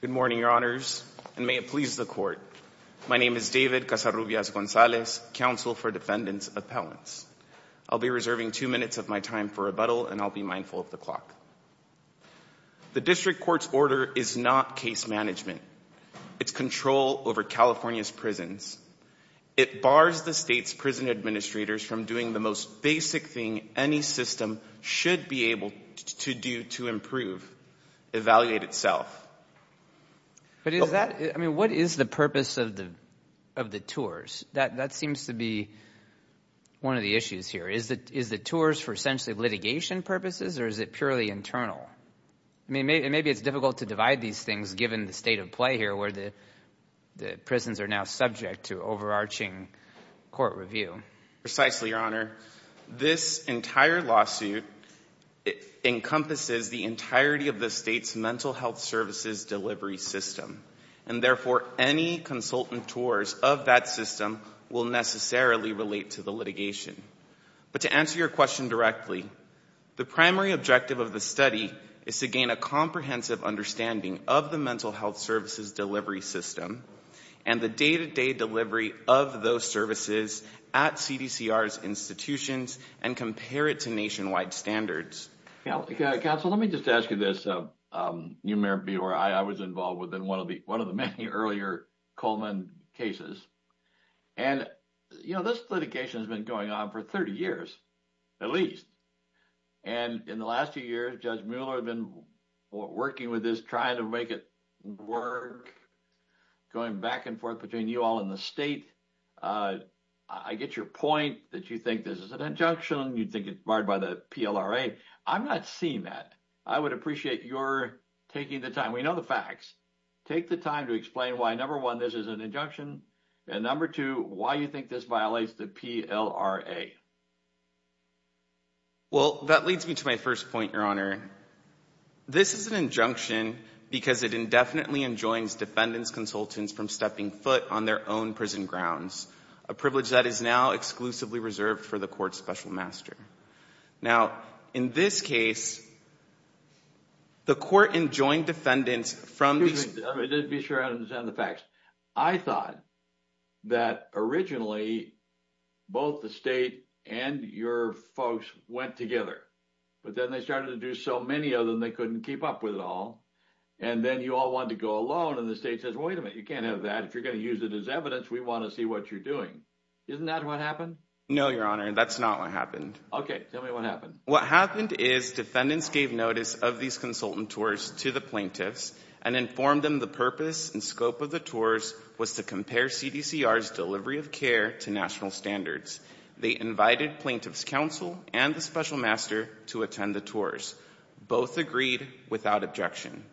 Good morning, your honors, and may it please the court. My name is David Casarubias Gonzalez, counsel for defendants' appellants. I'll be reserving two minutes of my time for rebuttal, and I'll be mindful of the clock. The district court's order is not case management. It's control over California's prisons. It bars the state's prison administrators from doing the most basic thing any system should be able to do to improve, evaluate itself. But is that – I mean what is the purpose of the tours? That seems to be one of the issues here. Is the tours for essentially litigation purposes or is it purely internal? I mean maybe it's difficult to divide these things given the state of play here where the prisons are now subject to overarching court review. Precisely, your honor. This entire lawsuit encompasses the entirety of the state's mental health services delivery system. And therefore any consultant tours of that system will necessarily relate to the litigation. But to answer your question directly, the primary objective of the study is to gain a comprehensive understanding of the mental health services delivery system and the day-to-day delivery of those services at CDCR's institutions and compare it to nationwide standards. Counsel, let me just ask you this. You may be aware I was involved within one of the many earlier Coleman cases. And this litigation has been going on for 30 years at least. And in the last few years Judge Mueller has been working with this, trying to make it work, going back and forth between you all and the state. I get your point that you think this is an injunction. You think it's barred by the PLRA. I'm not seeing that. I would appreciate your taking the time. We know the facts. Take the time to explain why, number one, this is an injunction. And number two, why you think this violates the PLRA. Well, that leads me to my first point, your honor. This is an injunction because it indefinitely enjoins defendants consultants from stepping foot on their own prison grounds. A privilege that is now exclusively reserved for the court's special master. Now, in this case, the court enjoined defendants from the facts. I thought that originally both the state and your folks went together. But then they started to do so many of them, they couldn't keep up with it all. And then you all want to go alone. And the state says, wait a minute, you can't have that. If you're going to use it as evidence, we want to see what you're doing. Isn't that what happened? No, your honor, that's not what happened. Okay, tell me what happened. What happened is defendants gave notice of these consultant tours to the plaintiffs and informed them the purpose and scope of the tours was to compare CDCR's delivery of care to national standards. They invited plaintiffs counsel and the special master to attend the tours. Both agreed without objection.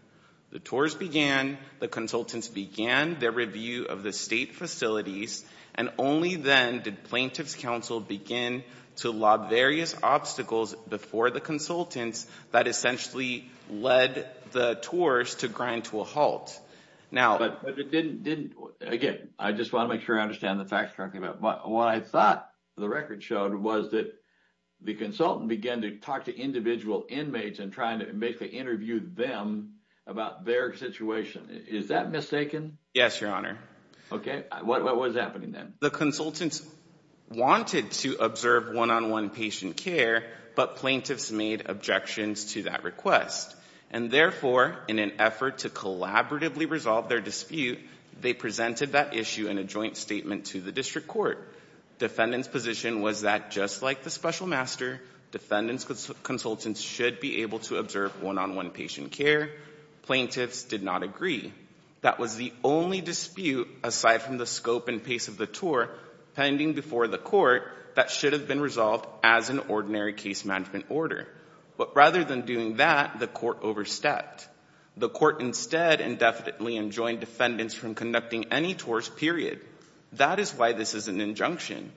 The tours began, the consultants began their review of the state facilities, and only then did plaintiffs counsel begin to lob various obstacles before the consultants that essentially led the tours to grind to a halt. But it didn't, again, I just want to make sure I understand the facts correctly. What I thought the record showed was that the consultant began to talk to individual inmates and trying to make the interview them about their situation. Is that mistaken? Yes, your honor. Okay, what was happening then? The consultants wanted to observe one-on-one patient care, but plaintiffs made objections to that request. And therefore, in an effort to collaboratively resolve their dispute, they presented that issue in a joint statement to the district court. Defendants' position was that just like the special master, defendants' consultants should be able to observe one-on-one patient care. Plaintiffs did not agree. That was the only dispute, aside from the scope and pace of the tour pending before the court, that should have been resolved as an ordinary case management order. But rather than doing that, the court overstepped. The court instead indefinitely enjoined defendants from conducting any tours, period. That is why this is an injunction,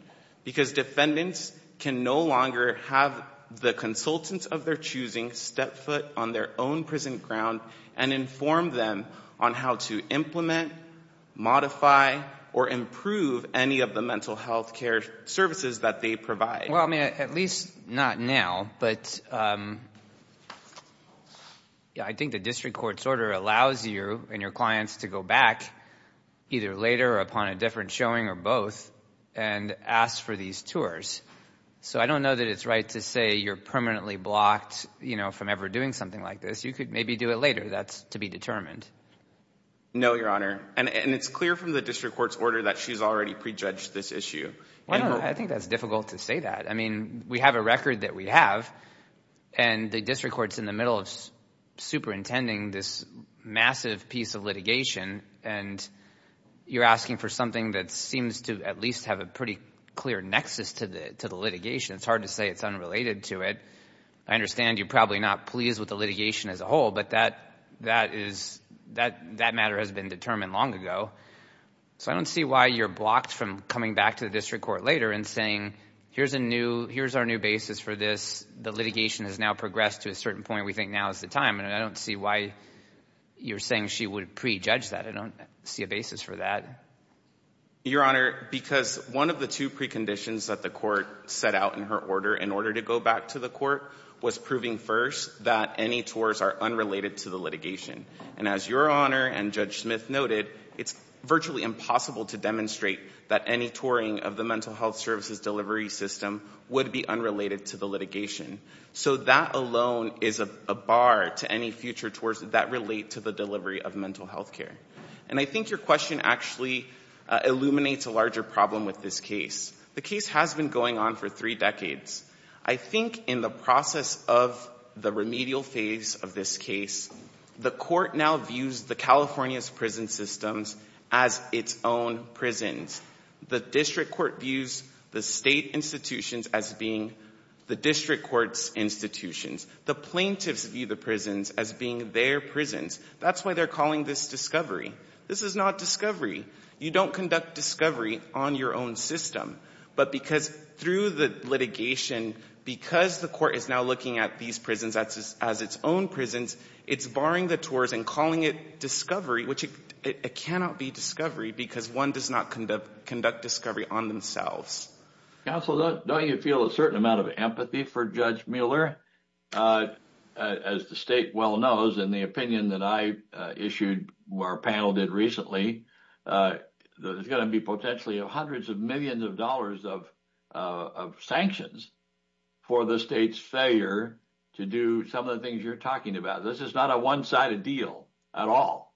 because defendants can no longer have the consultants of their choosing step foot on their own prison ground and inform them on how to implement, modify, or improve any of the mental health care services that they provide. Well, I mean, at least not now. But I think the district court's order allows you and your clients to go back, either later or upon a different showing or both, and ask for these tours. So I don't know that it's right to say you're permanently blocked from ever doing something like this. You could maybe do it later. That's to be determined. No, Your Honor. And it's clear from the district court's order that she's already prejudged this issue. I don't know. I think that's difficult to say that. I mean, we have a record that we have, and the district court's in the middle of superintending this massive piece of litigation, and you're asking for something that seems to at least have a pretty clear nexus to the litigation. It's hard to say it's unrelated to it. I understand you're probably not pleased with the litigation as a whole, but that matter has been determined long ago. So I don't see why you're blocked from coming back to the district court later and saying, here's our new basis for this. The litigation has now progressed to a certain point we think now is the time. And I don't see why you're saying she would prejudge that. I don't see a basis for that. Your Honor, because one of the two preconditions that the court set out in her order, in order to go back to the court, was proving first that any tours are unrelated to the litigation. And as Your Honor and Judge Smith noted, it's virtually impossible to demonstrate that any touring of the mental health services delivery system would be unrelated to the litigation. So that alone is a bar to any future tours that relate to the delivery of mental health care. And I think your question actually illuminates a larger problem with this case. The case has been going on for three decades. I think in the process of the remedial phase of this case, the court now views the California's prison systems as its own prisons. The district court views the state institutions as being the district court's institutions. The plaintiffs view the prisons as being their prisons. That's why they're calling this discovery. This is not discovery. You don't conduct discovery on your own system. But because through the litigation, because the court is now looking at these prisons as its own prisons, it's barring the tours and calling it discovery, which it cannot be discovery because one does not conduct discovery on themselves. Counsel, don't you feel a certain amount of empathy for Judge Mueller? As the state well knows, in the opinion that I issued, our panel did recently, there's going to be potentially hundreds of millions of dollars of sanctions for the state's failure to do some of the things you're talking about. This is not a one-sided deal at all.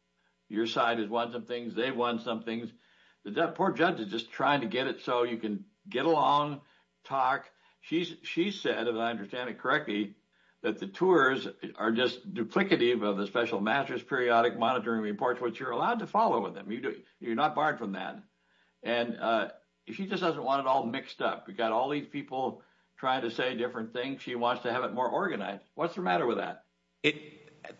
Your side has won some things. They've won some things. The poor judge is just trying to get it so you can get along, talk. She said, if I understand it correctly, that the tours are just duplicative of the special mattress periodic monitoring reports, which you're allowed to follow with them. You're not barred from that. And she just doesn't want it all mixed up. We've got all these people trying to say different things. She wants to have it more organized. What's the matter with that?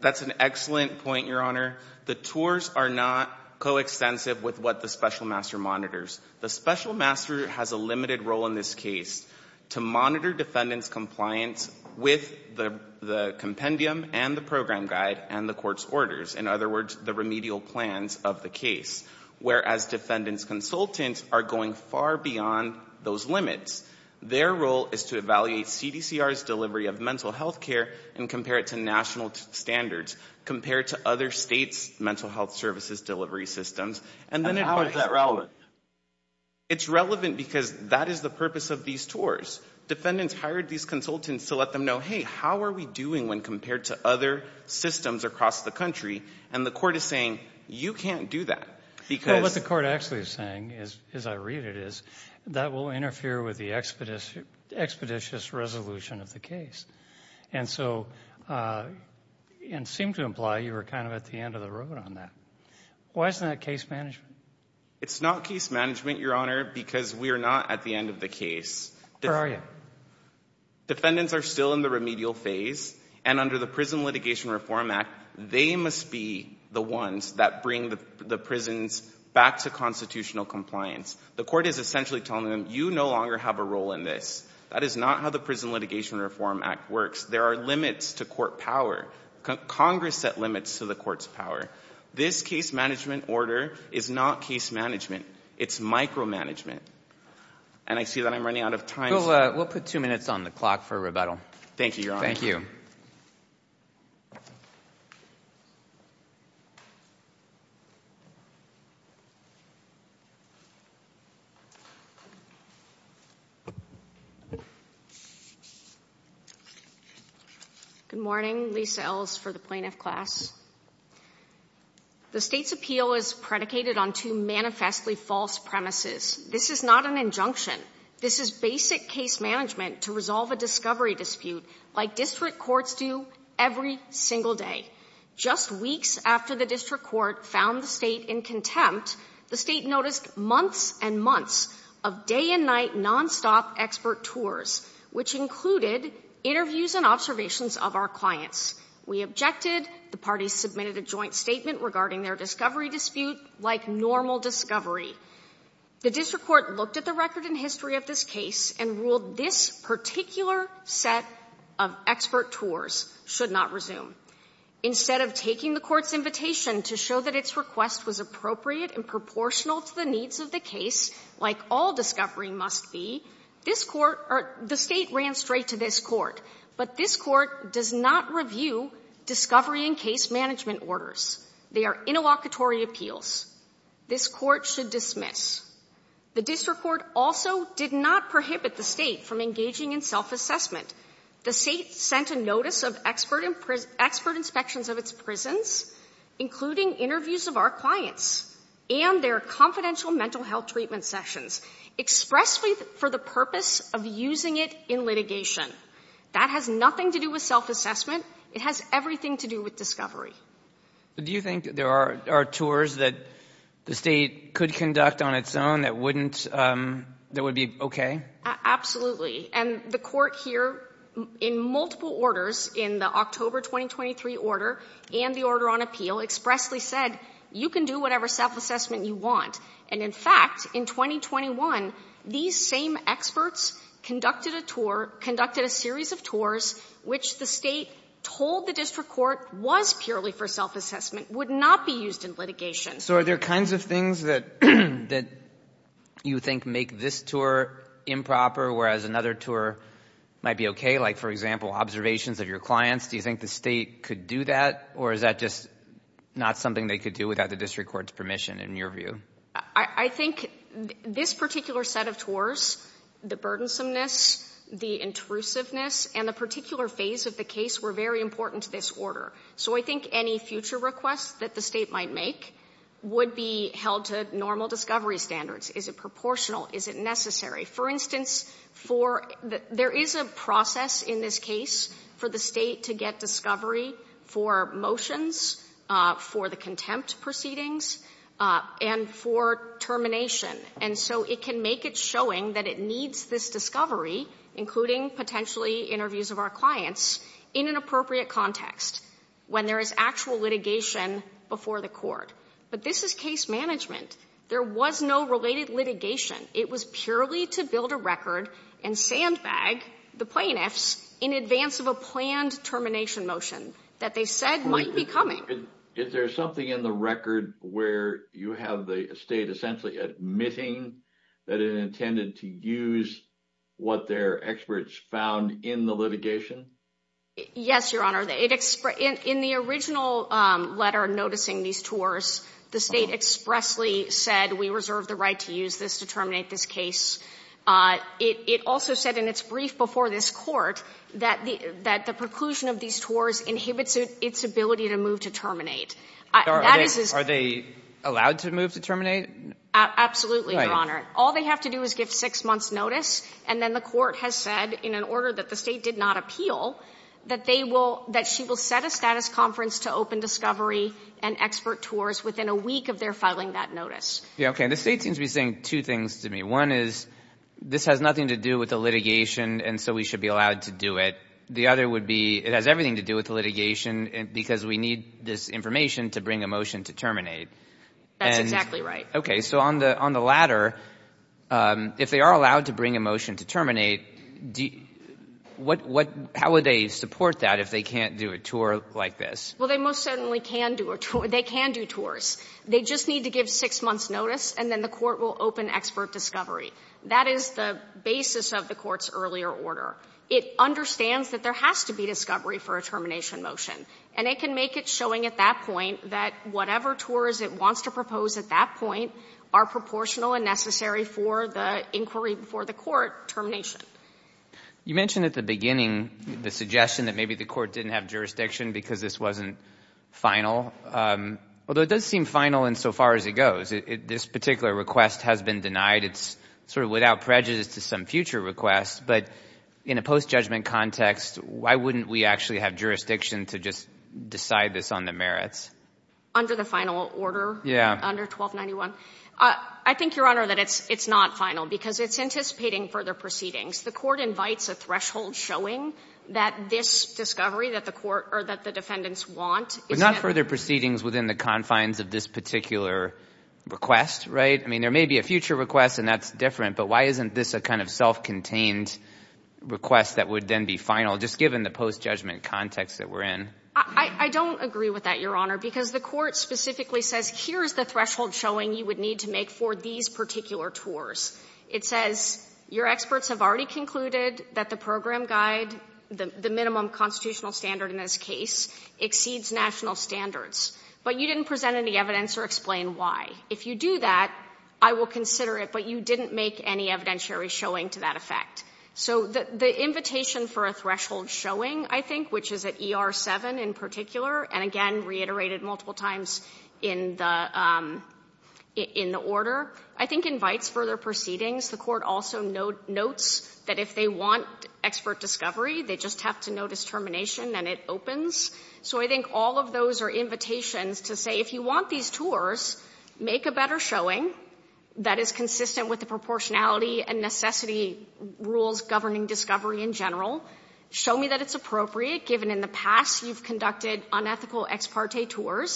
That's an excellent point, Your Honor. The tours are not coextensive with what the special master monitors. The special master has a limited role in this case to monitor defendants' compliance with the compendium and the program guide and the court's orders, in other words, the remedial plans of the case, whereas defendants' consultants are going far beyond those limits. Their role is to evaluate CDCR's delivery of mental health care and compare it to national standards, compare it to other states' mental health services delivery systems. And how is that relevant? It's relevant because that is the purpose of these tours. Defendants hired these consultants to let them know, hey, how are we doing when compared to other systems across the country? And the court is saying, you can't do that. What the court actually is saying, as I read it, is that will interfere with the expeditious resolution of the case. And so it seemed to imply you were kind of at the end of the road on that. Why isn't that case management? It's not case management, Your Honor, because we are not at the end of the case. Where are you? Defendants are still in the remedial phase, and under the Prison Litigation Reform Act, they must be the ones that bring the prisons back to constitutional compliance. The court is essentially telling them, you no longer have a role in this. That is not how the Prison Litigation Reform Act works. There are limits to court power. Congress set limits to the court's power. This case management order is not case management. It's micromanagement. And I see that I'm running out of time. We'll put two minutes on the clock for rebuttal. Thank you, Your Honor. Thank you. Good morning. Lisa Ells for the Plaintiff Class. The state's appeal is predicated on two manifestly false premises. This is not an injunction. This is basic case management to resolve a discovery dispute, like district courts do every single day. Just weeks after the district court found the state in contempt, the state noticed months and months and months of day and night nonstop expert tours, which included interviews and observations of our clients. We objected. The parties submitted a joint statement regarding their discovery dispute, like normal discovery. The district court looked at the record and history of this case and ruled this particular set of expert tours should not resume. Instead of taking the court's invitation to show that its request was appropriate and proportional to the needs of the case, like all discovery must be, the state ran straight to this court. But this court does not review discovery and case management orders. They are interlocutory appeals. This court should dismiss. The district court also did not prohibit the state from engaging in self-assessment. The state sent a notice of expert inspections of its prisons, including interviews of our clients and their confidential mental health treatment sessions, expressly for the purpose of using it in litigation. That has nothing to do with self-assessment. It has everything to do with discovery. But do you think there are tours that the state could conduct on its own that wouldn't that would be okay? Absolutely. And the court here, in multiple orders, in the October 2023 order and the order on appeal, expressly said you can do whatever self-assessment you want. And in fact, in 2021, these same experts conducted a tour, conducted a series of tours, which the state told the district court was purely for self-assessment, would not be used in litigation. So are there kinds of things that you think make this tour improper, whereas another tour might be okay, like, for example, observations of your clients? Do you think the state could do that? Or is that just not something they could do without the district court's permission, in your view? I think this particular set of tours, the burdensomeness, the intrusiveness, and the particular phase of the case were very important to this order. So I think any future requests that the state might make would be held to normal discovery standards. Is it proportional? Is it necessary? For instance, there is a process in this case for the state to get discovery for motions, for the contempt proceedings, and for termination. And so it can make it showing that it needs this discovery, including potentially interviews of our clients, in an appropriate context, when there is actual litigation before the court. But this is case management. There was no related litigation. It was purely to build a record and sandbag the plaintiffs in advance of a planned termination motion that they said might be coming. Is there something in the record where you have the state essentially admitting that it intended to use what their experts found in the litigation? Yes, Your Honor. In the original letter noticing these tours, the state expressly said, we reserve the right to use this to terminate this case. It also said in its brief before this Court that the preclusion of these tours inhibits its ability to move to terminate. That is as far as they are. Are they allowed to move to terminate? Absolutely, Your Honor. Right. All they have to do is give 6 months' notice, and then the Court has said, in an order that the state did not appeal, that they will – that she will set a status conference to open discovery and expert tours within a week of their filing that notice. Okay. The state seems to be saying two things to me. One is, this has nothing to do with the litigation, and so we should be allowed to do it. The other would be, it has everything to do with the litigation because we need this information to bring a motion to terminate. That's exactly right. Okay. So on the latter, if they are allowed to bring a motion to terminate, how would they support that if they can't do a tour like this? Well, they most certainly can do a tour. They can do tours. They just need to give 6 months' notice, and then the Court will open expert discovery. That is the basis of the Court's earlier order. It understands that there has to be discovery for a termination motion, and it can make it showing at that point that whatever tours it wants to propose at that point are proportional and necessary for the inquiry before the Court termination. You mentioned at the beginning the suggestion that maybe the Court didn't have jurisdiction because this wasn't final. Although it does seem final insofar as it goes. This particular request has been denied. It's sort of without prejudice to some future requests. But in a post-judgment context, why wouldn't we actually have jurisdiction to just decide this on the merits? Under the final order? Yeah. Under 1291? I think, Your Honor, that it's not final because it's anticipating further proceedings. The Court invites a threshold showing that this discovery that the Court or that the defendants want. But not further proceedings within the confines of this particular request, right? I mean, there may be a future request and that's different, but why isn't this a kind of self-contained request that would then be final, just given the post-judgment context that we're in? I don't agree with that, Your Honor, because the Court specifically says here's the threshold showing you would need to make for these particular tours. It says your experts have already concluded that the program guide, the minimum constitutional standard in this case, exceeds national standards. But you didn't present any evidence or explain why. If you do that, I will consider it, but you didn't make any evidentiary showing to that effect. So the invitation for a threshold showing, I think, which is at ER 7 in particular and, again, reiterated multiple times in the order, I think invites further proceedings. The Court also notes that if they want expert discovery, they just have to notice termination and it opens. So I think all of those are invitations to say if you want these tours, make a better showing that is consistent with the proportionality and necessity rules governing discovery in general. Show me that it's appropriate, given in the past you've conducted unethical ex parte tours,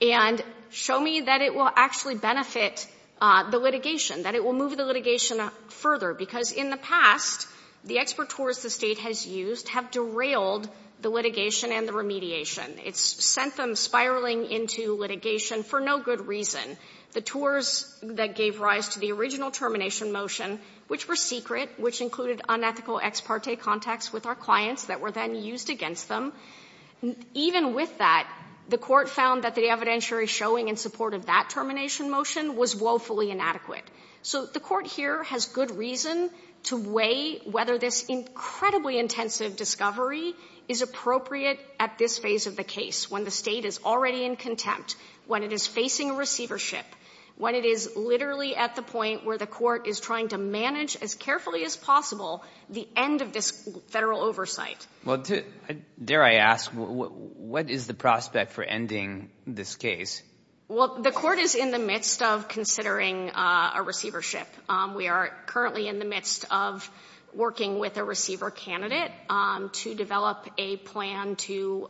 and show me that it will actually benefit the litigation, that it will move the litigation further. Because in the past, the expert tours the State has used have derailed the litigation and the remediation. It's sent them spiraling into litigation for no good reason. The tours that gave rise to the original termination motion, which were secret, which included unethical ex parte contacts with our clients that were then used against them, even with that, the Court found that the evidentiary showing in support of that termination motion was woefully inadequate. So the Court here has good reason to weigh whether this incredibly intensive discovery is appropriate at this phase of the case, when the State is already in contempt, when it is facing receivership, when it is literally at the point where the Court is trying to manage as carefully as possible the end of this Federal oversight. Well, dare I ask, what is the prospect for ending this case? Well, the Court is in the midst of considering a receivership. We are currently in the midst of working with a receiver candidate to develop a plan to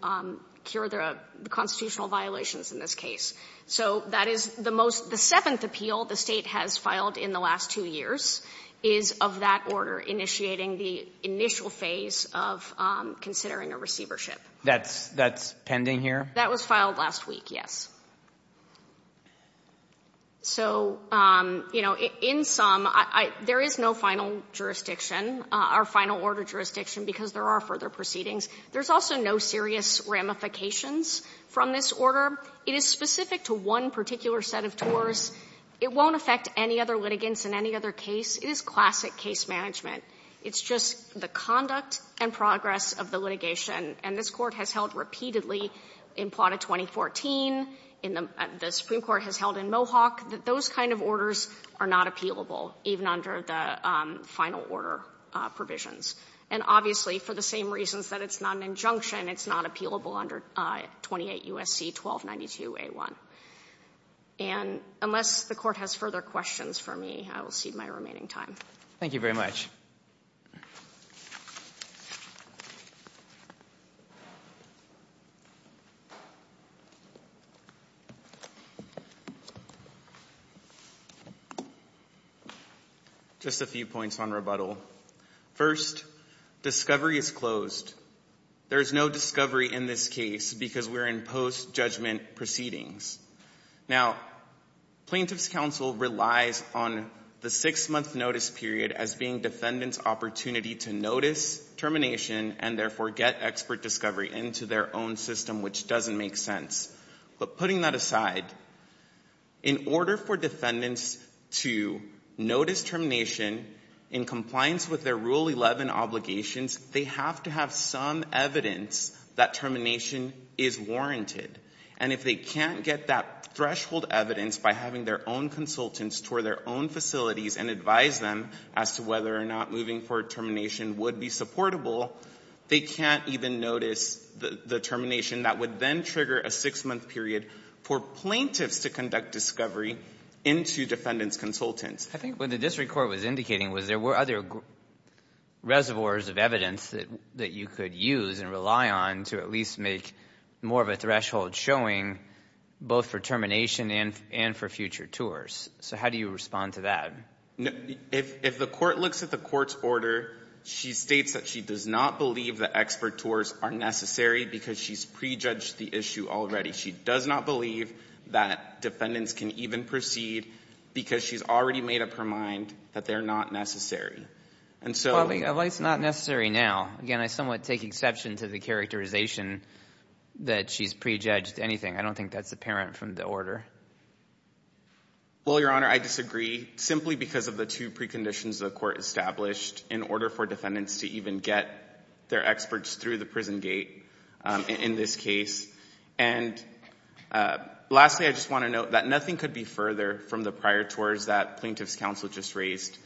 cure the constitutional violations in this case. So that is the most, the seventh appeal the State has filed in the last two years is of that order initiating the initial phase of considering a receivership. That's pending here? That was filed last week, yes. So, you know, in sum, I — there is no final jurisdiction, our final order jurisdiction, because there are further proceedings. There's also no serious ramifications from this order. It is specific to one particular set of tours. It won't affect any other litigants in any other case. It is classic case management. It's just the conduct and progress of the litigation. And this Court has held repeatedly in Plata 2014, the Supreme Court has held in Mohawk that those kind of orders are not appealable, even under the final order provisions. And obviously, for the same reasons that it's not an injunction, it's not appealable under 28 U.S.C. 1292a1. And unless the Court has further questions for me, I will cede my remaining time. Thank you very much. Just a few points on rebuttal. First, discovery is closed. There is no discovery in this case because we're in post-judgment proceedings. Now, Plaintiffs' Counsel relies on the six-month notice period as being defendants' opportunity to notice termination and therefore get expert discovery into their own system, which doesn't make sense. But putting that aside, in order for defendants to notice termination in compliance with their Rule 11 obligations, they have to have some evidence that termination is warranted. And if they can't get that threshold evidence by having their own consultants tour their own facilities and advise them as to whether or not moving for termination would be supportable, they can't even notice the termination that would then trigger a six-month period for plaintiffs to conduct discovery into defendants' consultants. I think what the district court was indicating was there were other reservoirs of evidence that you could use and rely on to at least make more of a threshold showing both for termination and for future tours. So how do you respond to that? If the court looks at the court's order, she states that she does not believe that expert tours are necessary because she's prejudged the issue already. She does not believe that defendants can even proceed because she's already made up her mind that they're not necessary. Well, it's not necessary now. Again, I somewhat take exception to the characterization that she's prejudged anything. I don't think that's apparent from the order. Well, Your Honor, I disagree, simply because of the two preconditions the court established in order for defendants to even get their experts through the prison gate in this case. And lastly, I just want to note that nothing could be further from the prior tours that plaintiff's counsel just raised.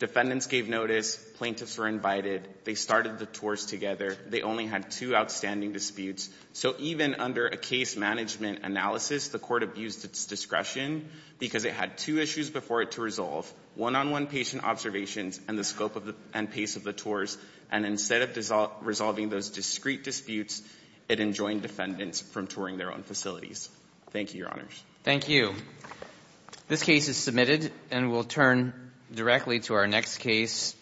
Defendants gave notice. Plaintiffs were invited. They started the tours together. They only had two outstanding disputes. So even under a case management analysis, the court abused its discretion because it had two issues before it to resolve, one-on-one patient observations and the scope and pace of the tours. And instead of resolving those discrete disputes, it enjoined defendants from touring their own facilities. Thank you, Your Honors. Thank you. This case is submitted and we'll turn directly to our next case.